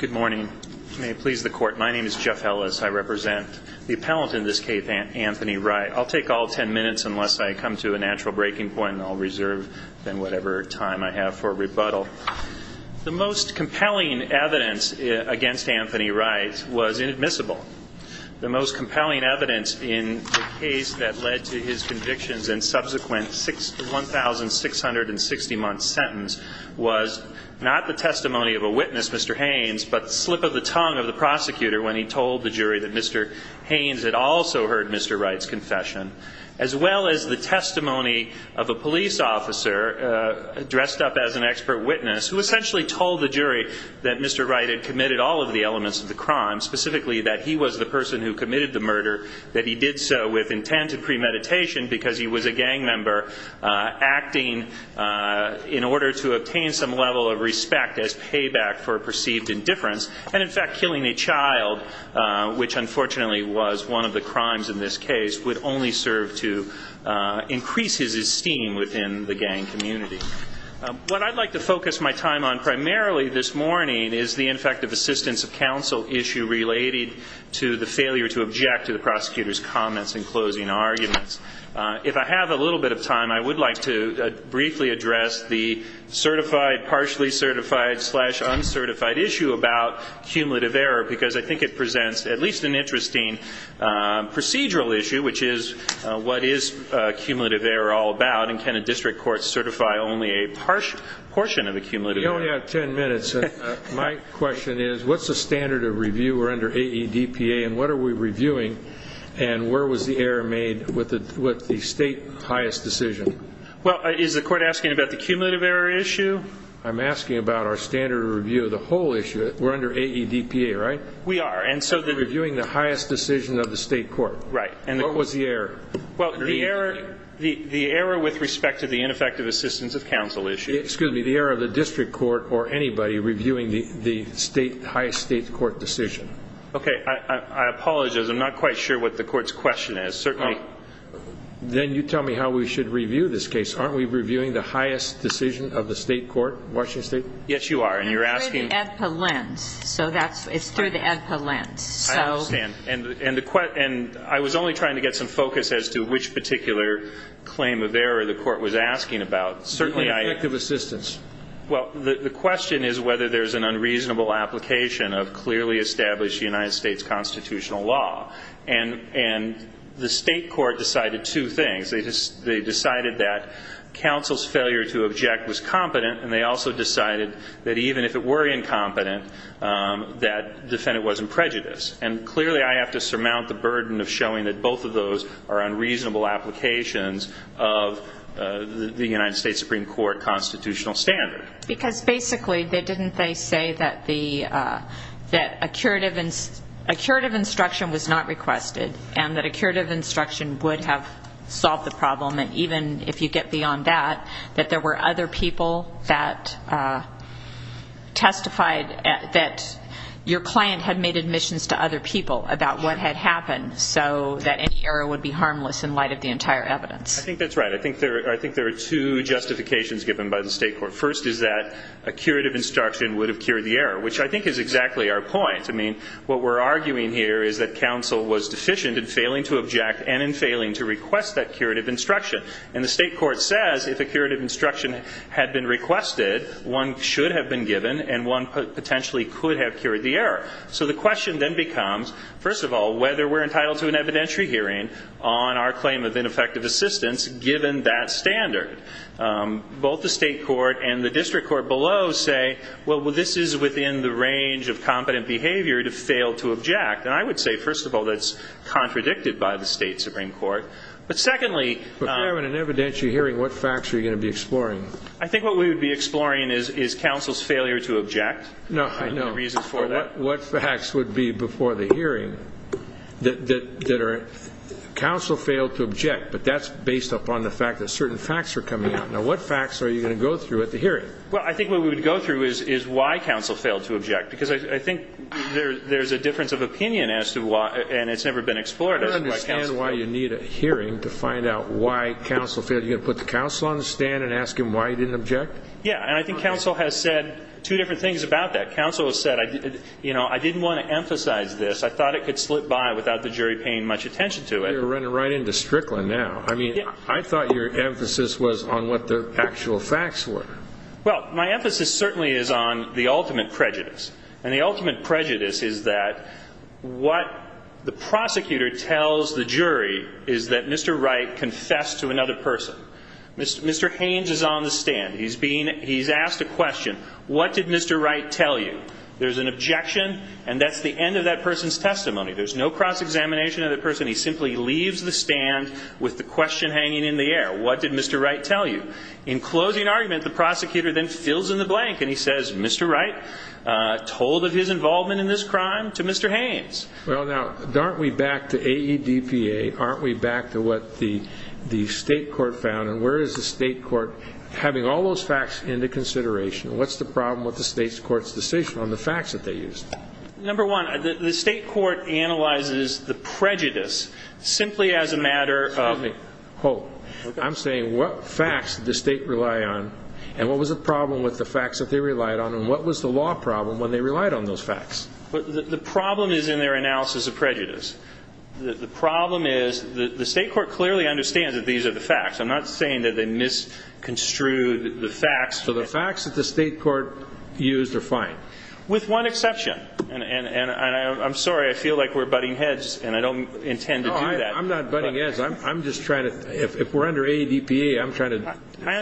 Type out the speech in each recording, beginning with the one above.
Good morning. May it please the court. My name is Jeff Ellis. I represent the appellant in this case, Anthony Wright. I'll take all ten minutes unless I come to a natural breaking point and I'll reserve then whatever time I have for rebuttal. The most compelling evidence against Anthony Wright was inadmissible. The most compelling evidence in the case that led to his convictions and subsequent 1,660-month sentence was not the testimony of a witness, Mr. Haynes, but the slip of the tongue of the prosecutor when he told the jury that Mr. Haynes had also heard Mr. Wright's confession. As well as the testimony of a police officer dressed up as an expert witness who essentially told the jury that Mr. Wright had committed all of the elements of the crime, specifically that he was the person who committed the murder, that he did so with intent and premeditation because he was a gang member acting in order to obtain some level of respect as payback for perceived indifference. And in fact, killing a child, which unfortunately was one of the crimes in this case, would only serve to increase his esteem within the gang community. What I'd like to focus my time on primarily this morning is the Infective Assistance of Counsel issue related to the failure to object to the prosecutor's comments in closing arguments. If I have a little bit of time, I would like to briefly address the certified, partially certified, slash uncertified issue about cumulative error because I think it presents at least an interesting procedural issue, which is what is cumulative error all about, and can a district court certify only a portion of a cumulative error? We only have 10 minutes, and my question is, what's the standard of review? We're under AEDPA, and what are we reviewing? And where was the error made with the state highest decision? Well, is the court asking about the cumulative error issue? I'm asking about our standard of review of the whole issue. We're under AEDPA, right? We are, and so the Reviewing the highest decision of the state court. Right. What was the error? Well, the error with respect to the Ineffective Assistance of Counsel issue. Excuse me, the error of the district court or anybody reviewing the highest state court decision. Okay, I apologize. I'm not quite sure what the court's question is. Then you tell me how we should review this case. Aren't we reviewing the highest decision of the state court, Washington State? Yes, you are, and you're asking It's through the AEDPA lens, so that's It's through the AEDPA lens, so I understand, and I was only trying to get some focus as to which particular claim of error the court was asking about. The Ineffective Assistance. Well, the question is whether there's an unreasonable application of clearly established United States constitutional law. And the state court decided two things. They decided that counsel's failure to object was competent, and they also decided that even if it were incompetent, that defendant wasn't prejudiced. And clearly I have to surmount the burden of showing that both of those are unreasonable applications of the United States Supreme Court constitutional standard. Because basically, didn't they say that a curative instruction was not requested, and that a curative instruction would have solved the problem, and even if you get beyond that, that there were other people that testified that your client had made admissions to other people about what had happened, so that any error would be harmless in light of the entire evidence. I think that's right. I think there are two justifications given by the state court. First is that a curative instruction would have cured the error, which I think is exactly our point. I mean, what we're arguing here is that counsel was deficient in failing to object and in failing to request that curative instruction. And the state court says if a curative instruction had been requested, one should have been given, and one potentially could have cured the error. So the question then becomes, first of all, whether we're entitled to an evidentiary hearing on our claim of ineffective assistance given that standard. Both the state court and the district court below say, well, this is within the range of competent behavior to fail to object. And I would say, first of all, that's contradicted by the state Supreme Court. But secondly- If you're having an evidentiary hearing, what facts are you going to be exploring? I think what we would be exploring is counsel's failure to object. No, I know. And the reasons for that. What facts would be before the hearing that are counsel failed to object, but that's based upon the fact that certain facts are coming out. Now, what facts are you going to go through at the hearing? Well, I think what we would go through is why counsel failed to object, because I think there's a difference of opinion as to why, and it's never been explored. I don't understand why you need a hearing to find out why counsel failed. Are you going to put the counsel on the stand and ask him why he didn't object? Yeah, and I think counsel has said two different things about that. Counsel has said, you know, I didn't want to emphasize this. I thought it could slip by without the jury paying much attention to it. You're running right into Strickland now. I mean, I thought your emphasis was on what the actual facts were. Well, my emphasis certainly is on the ultimate prejudice. And the ultimate prejudice is that what the prosecutor tells the jury is that Mr. Wright confessed to another person. Mr. Haynes is on the stand. He's asked a question. What did Mr. Wright tell you? There's an objection, and that's the end of that person's testimony. There's no cross-examination of the person. He simply leaves the stand with the question hanging in the air. What did Mr. Wright tell you? In closing argument, the prosecutor then fills in the blank, and he says, Mr. Wright told of his involvement in this crime to Mr. Haynes. Well, now, aren't we back to AEDPA? Aren't we back to what the state court found? And where is the state court having all those facts into consideration? What's the problem with the state court's decision on the facts that they used? Number one, the state court analyzes the prejudice simply as a matter of ---- And what was the problem with the facts that they relied on, and what was the law problem when they relied on those facts? But the problem is in their analysis of prejudice. The problem is the state court clearly understands that these are the facts. I'm not saying that they misconstrued the facts. So the facts that the state court used are fine? With one exception. And I'm sorry, I feel like we're butting heads, and I don't intend to do that. No, I'm not butting heads. I'm just trying to, if we're under AEDPA, I'm trying to do an analysis. I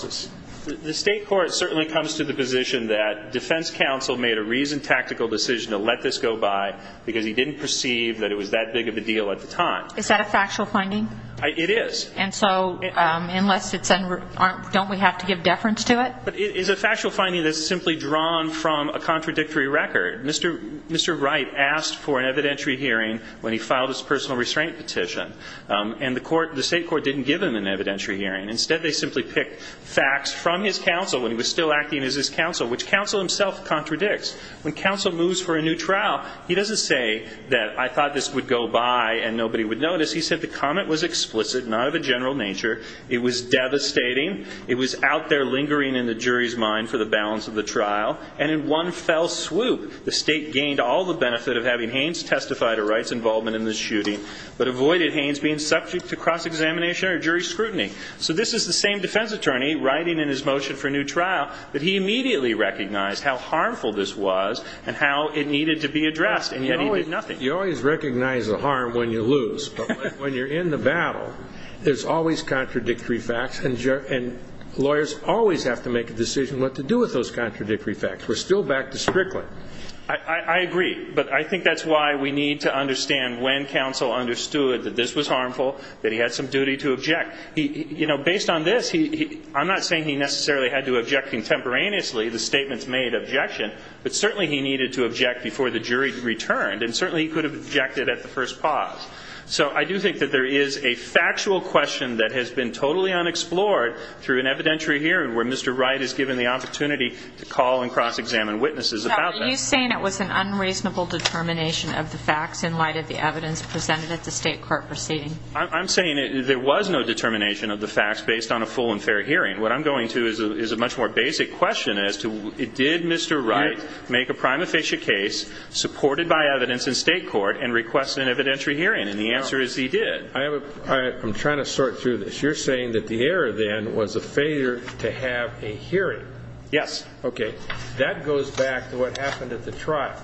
understand. The state court certainly comes to the position that defense counsel made a reasoned, tactical decision to let this go by because he didn't perceive that it was that big of a deal at the time. Is that a factual finding? It is. And so, unless it's, don't we have to give deference to it? But it is a factual finding that's simply drawn from a contradictory record. Mr. Wright asked for an evidentiary hearing when he filed his personal restraint petition. And the state court didn't give him an evidentiary hearing. Instead, they simply picked facts from his counsel when he was still acting as his counsel, which counsel himself contradicts. When counsel moves for a new trial, he doesn't say that I thought this would go by and nobody would notice. He said the comment was explicit, not of a general nature. It was devastating. It was out there lingering in the jury's mind for the balance of the trial. And in one fell swoop, the state gained all the benefit of having Haynes testify to Wright's involvement in this shooting but avoided Haynes being subject to cross-examination or jury scrutiny. So this is the same defense attorney writing in his motion for a new trial that he immediately recognized how harmful this was and how it needed to be addressed, and yet he did nothing. You always recognize the harm when you lose. But when you're in the battle, there's always contradictory facts, and lawyers always have to make a decision what to do with those contradictory facts. We're still back to Strickland. I agree, but I think that's why we need to understand when counsel understood that this was harmful, that he had some duty to object. You know, based on this, I'm not saying he necessarily had to object contemporaneously. The statements made objection, but certainly he needed to object before the jury returned, and certainly he could have objected at the first pause. So I do think that there is a factual question that has been totally unexplored through an evidentiary hearing where Mr. Wright is given the opportunity to call and cross-examine witnesses about that. Now, are you saying it was an unreasonable determination of the facts in light of the evidence presented at the state court proceeding? I'm saying there was no determination of the facts based on a full and fair hearing. What I'm going to is a much more basic question as to did Mr. Wright make a prima facie case supported by evidence in state court and request an evidentiary hearing, and the answer is he did. I'm trying to sort through this. You're saying that the error then was a failure to have a hearing. Yes. Okay. That goes back to what happened at the trial.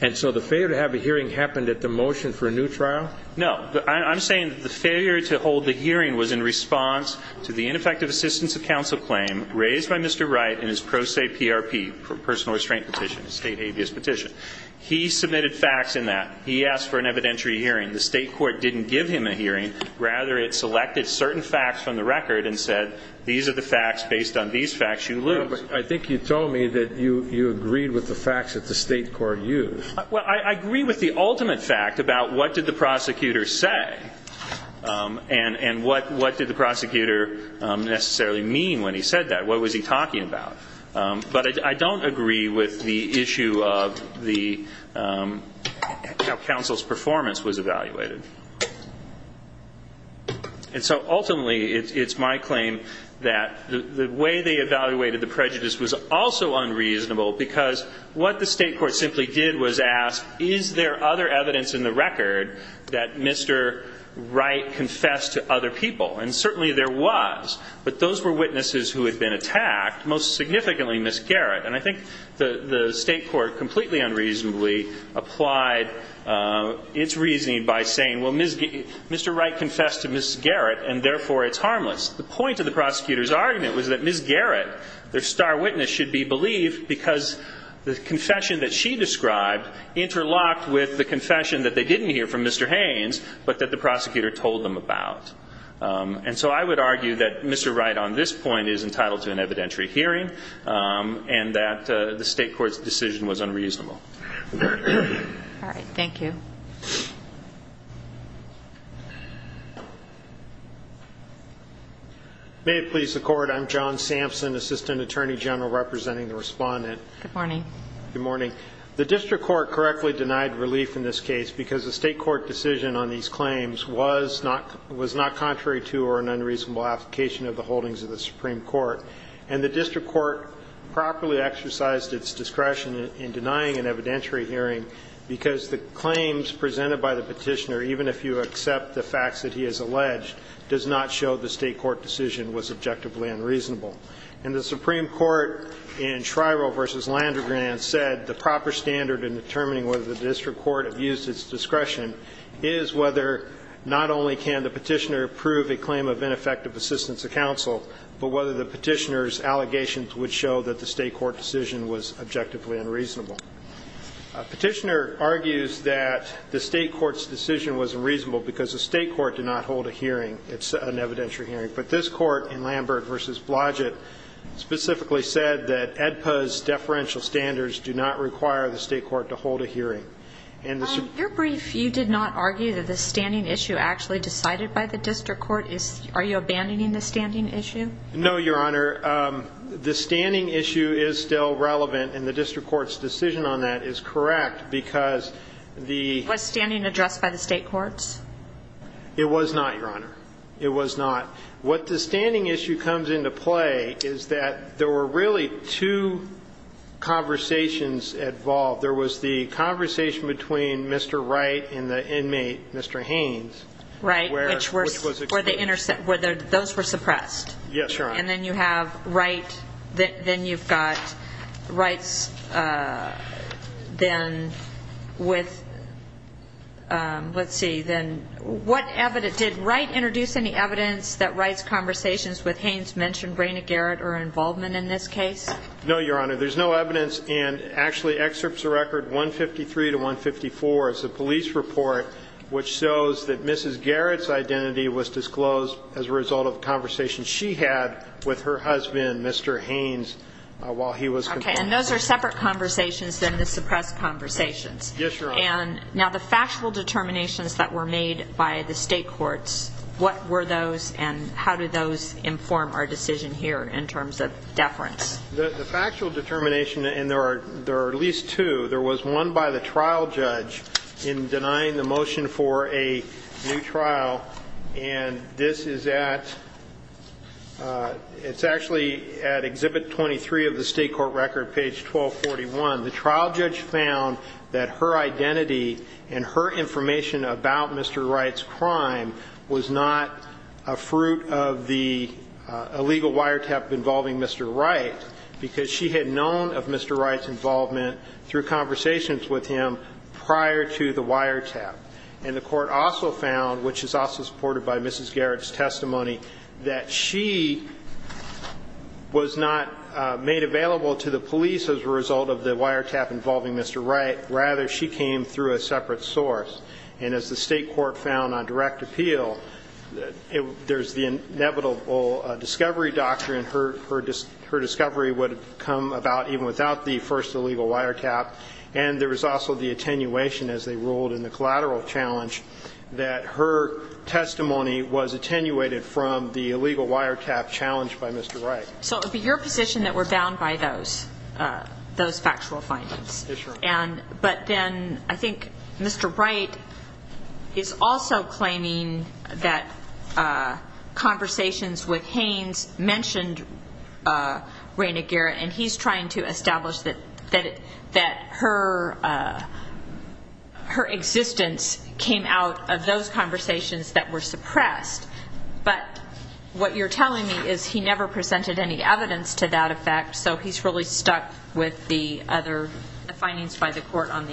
And so the failure to have a hearing happened at the motion for a new trial? No. I'm saying the failure to hold the hearing was in response to the ineffective assistance of counsel claim raised by Mr. Wright in his pro se PRP, personal restraint petition, state habeas petition. He submitted facts in that. He asked for an evidentiary hearing. The state court didn't give him a hearing. Rather, it selected certain facts from the record and said these are the facts based on these facts. You lose. I think you told me that you agreed with the facts that the state court used. Well, I agree with the ultimate fact about what did the prosecutor say and what did the prosecutor necessarily mean when he said that. What was he talking about? But I don't agree with the issue of how counsel's performance was evaluated. And so ultimately it's my claim that the way they evaluated the prejudice was also unreasonable because what the state court simply did was ask is there other evidence in the record that Mr. Wright confessed to other people. And certainly there was. But those were witnesses who had been attacked, most significantly Ms. Garrett. And I think the state court completely unreasonably applied its reasoning by saying, well, Mr. Wright confessed to Ms. Garrett and therefore it's harmless. The point of the prosecutor's argument was that Ms. Garrett, their star witness, should be believed because the confession that she described interlocked with the confession that they didn't hear from Mr. Haynes but that the prosecutor told them about. And so I would argue that Mr. Wright on this point is entitled to an evidentiary hearing and that the state court's decision was unreasonable. All right. Thank you. May it please the Court. I'm John Sampson, Assistant Attorney General representing the respondent. Good morning. Good morning. The district court correctly denied relief in this case because the state court decision on these claims was not contrary to or an unreasonable application of the holdings of the Supreme Court. And the district court properly exercised its discretion in denying an evidentiary hearing because the claims presented by the petitioner, even if you accept the facts that he has alleged, does not show the state court decision was objectively unreasonable. And the Supreme Court in Shriver v. Landergren said the proper standard in determining whether the district court abused its discretion is whether not only can the petitioner prove a claim of ineffective assistance to counsel, but whether the petitioner's allegations would show that the state court decision was objectively unreasonable. A petitioner argues that the state court's decision was unreasonable because the state court did not hold a hearing. It's an evidentiary hearing. But this court in Lambert v. Blodgett specifically said that EDPA's deferential standards do not require the state court to hold a hearing. Your brief, you did not argue that the standing issue actually decided by the district court? Are you abandoning the standing issue? No, Your Honor. The standing issue is still relevant, and the district court's decision on that is correct because the ---- Was standing addressed by the state courts? It was not, Your Honor. It was not. What the standing issue comes into play is that there were really two conversations involved. There was the conversation between Mr. Wright and the inmate, Mr. Haynes. Right. Which was exposed. Where those were suppressed. Yes, Your Honor. And then you have Wright, then you've got Wright's then with, let's see, then what evidence Did Wright introduce any evidence that Wright's conversations with Haynes mentioned Rayna Garrett or involvement in this case? No, Your Honor. There's no evidence. And actually excerpts of record 153 to 154 is the police report which shows that Mrs. Garrett's identity was disclosed as a result of a conversation she had with her husband, Mr. Haynes, while he was ---- Okay. And those are separate conversations than the suppressed conversations. Yes, Your Honor. And now the factual determinations that were made by the state courts, what were those and how do those inform our decision here in terms of deference? The factual determination, and there are at least two, there was one by the trial judge in denying the motion for a new trial. And this is at, it's actually at Exhibit 23 of the state court record, page 1241. The trial judge found that her identity and her information about Mr. Wright's crime was not a fruit of the illegal wiretap involving Mr. Wright because she had known of Mr. Wright's involvement through conversations with him prior to the wiretap. And the court also found, which is also supported by Mrs. Garrett's testimony, that she was not made available to the police as a result of the wiretap involving Mr. Wright. Rather, she came through a separate source. And as the state court found on direct appeal, there's the inevitable discovery doctrine. Her discovery would have come about even without the first illegal wiretap. And there was also the attenuation, as they ruled in the collateral challenge, that her testimony was attenuated from the illegal wiretap challenged by Mr. Wright. So it would be your position that we're bound by those factual findings. Yes, Your Honor. But then I think Mr. Wright is also claiming that conversations with Haynes mentioned Raina Garrett, and he's trying to establish that her existence came out of those conversations that were suppressed. But what you're telling me is he never presented any evidence to that effect, so he's really stuck with the other findings by the court on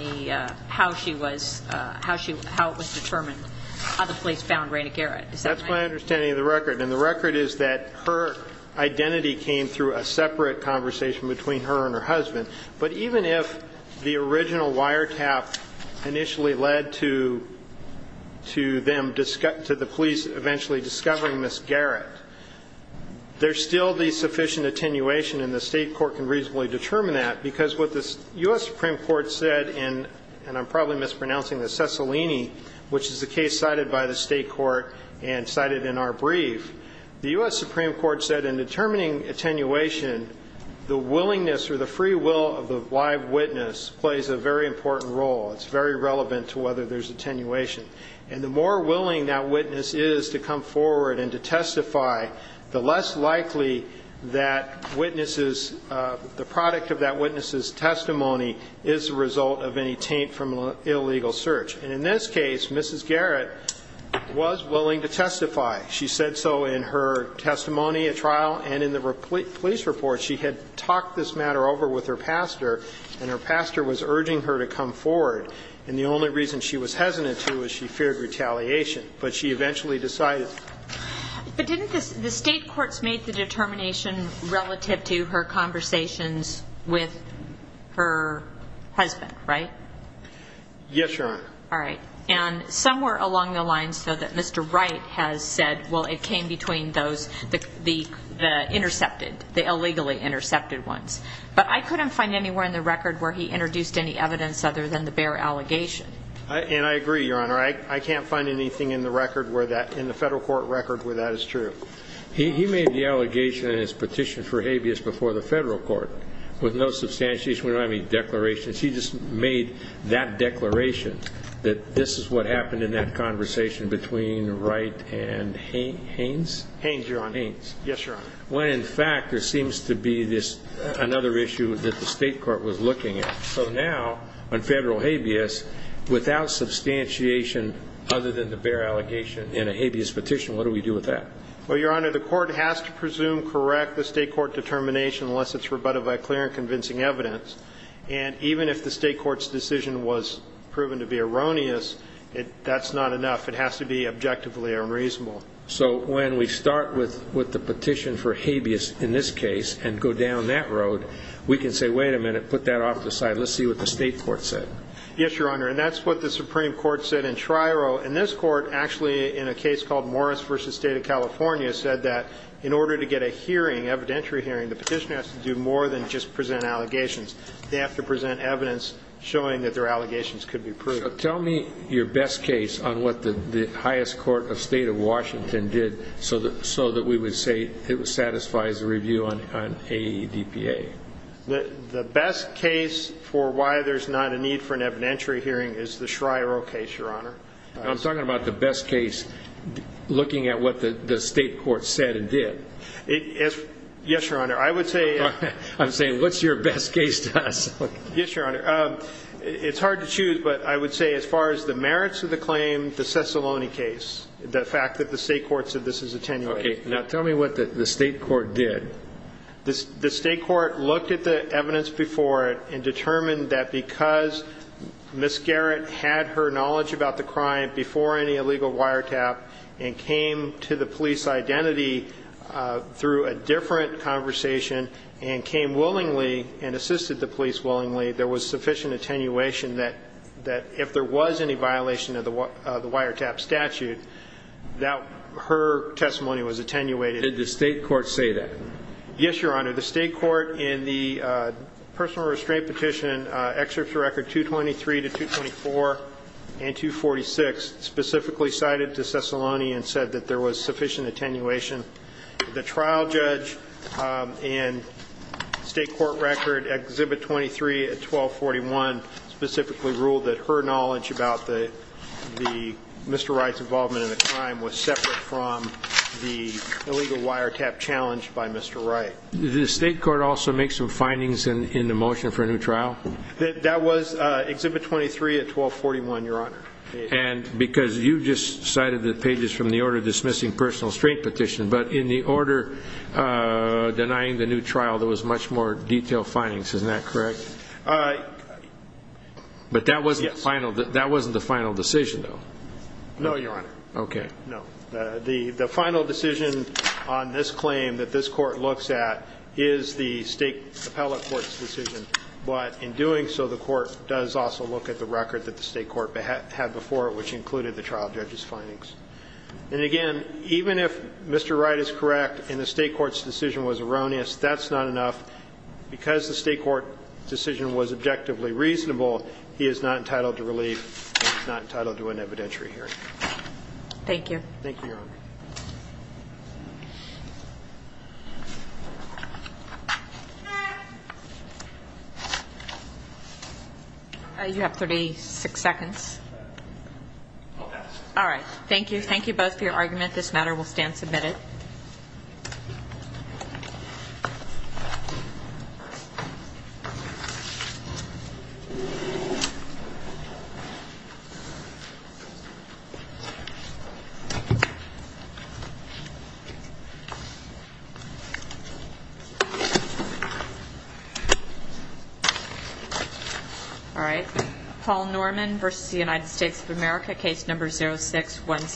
how it was determined how the police found Raina Garrett. Is that right? That's my understanding of the record. And the record is that her identity came through a separate conversation between her and her husband. But even if the original wiretap initially led to them, to the police eventually discovering Ms. Garrett, there's still the sufficient attenuation, and the state court can reasonably determine that, because what the U.S. Supreme Court said in, and I'm probably mispronouncing this, which is the case cited by the state court and cited in our brief, the U.S. Supreme Court said in determining attenuation, the willingness or the free will of the live witness plays a very important role. It's very relevant to whether there's attenuation. And the more willing that witness is to come forward and to testify, the less likely that witnesses, the product of that witness's testimony, is the result of any taint from an illegal search. And in this case, Mrs. Garrett was willing to testify. She said so in her testimony at trial and in the police report. She had talked this matter over with her pastor, and her pastor was urging her to come forward. And the only reason she was hesitant to was she feared retaliation. But she eventually decided. But didn't the state courts make the determination relative to her conversations with her husband, right? Yes, Your Honor. All right. And somewhere along the lines, though, that Mr. Wright has said, well, it came between those, the intercepted, the illegally intercepted ones. But I couldn't find anywhere in the record where he introduced any evidence other than the bare allegation. And I agree, Your Honor. I can't find anything in the record where that, in the federal court record where that is true. He made the allegation in his petition for habeas before the federal court with no substantiation. We don't have any declarations. He just made that declaration that this is what happened in that conversation between Wright and Haynes? Haynes, Your Honor. Haynes. Yes, Your Honor. When, in fact, there seems to be this, another issue that the state court was looking at. So now on federal habeas, without substantiation other than the bare allegation in a habeas petition, what do we do with that? Well, Your Honor, the court has to presume correct the state court determination unless it's rebutted by clear and convincing evidence. And even if the state court's decision was proven to be erroneous, that's not enough. It has to be objectively unreasonable. So when we start with the petition for habeas in this case and go down that road, we can say, wait a minute, put that off to the side, let's see what the state court said. Yes, Your Honor. And that's what the Supreme Court said in Triero. And this court actually, in a case called Morris v. State of California, said that in order to get a hearing, evidentiary hearing, the petitioner has to do more than just present allegations. They have to present evidence showing that their allegations could be proved. So tell me your best case on what the highest court of State of Washington did so that we would say it satisfies the review on AEDPA. The best case for why there's not a need for an evidentiary hearing is the Schriero case, Your Honor. I'm talking about the best case looking at what the state court said and did. Yes, Your Honor. I'm saying, what's your best case to us? Yes, Your Honor. It's hard to choose, but I would say as far as the merits of the claim, the Cicillone case, the fact that the state court said this is a 10-year case. Okay. Now tell me what the state court did. The state court looked at the evidence before and determined that because Ms. Garrett had her knowledge about the crime before any illegal wiretap and came to the police identity through a different conversation and came willingly and assisted the police willingly, there was sufficient attenuation that if there was any violation of the wiretap statute, her testimony was attenuated. Did the state court say that? Yes, Your Honor. The state court in the personal restraint petition excerpts from record 223 to 224 and 246 specifically cited to Cicillone and said that there was sufficient attenuation. The trial judge in state court record exhibit 23 at 1241 specifically ruled that her knowledge about Mr. Wright's involvement in the crime was separate from the illegal wiretap challenged by Mr. Wright. Did the state court also make some findings in the motion for a new trial? That was exhibit 23 at 1241, Your Honor. And because you just cited the pages from the order dismissing personal restraint petition, but in the order denying the new trial there was much more detailed findings, isn't that correct? But that wasn't the final decision, though. No, Your Honor. Okay. No. The final decision on this claim that this court looks at is the state appellate court's decision, but in doing so the court does also look at the record that the state court had before it, which included the trial judge's findings. And, again, even if Mr. Wright is correct and the state court's decision was erroneous, that's not enough. Because the state court decision was objectively reasonable, he is not entitled to relief and is not entitled to an evidentiary hearing. Thank you. Thank you, Your Honor. You have 36 seconds. I'll pass. All right. Thank you. Thank you both for your argument. This matter will stand submitted. All right. Paul Norman v. United States of America, case number 0616.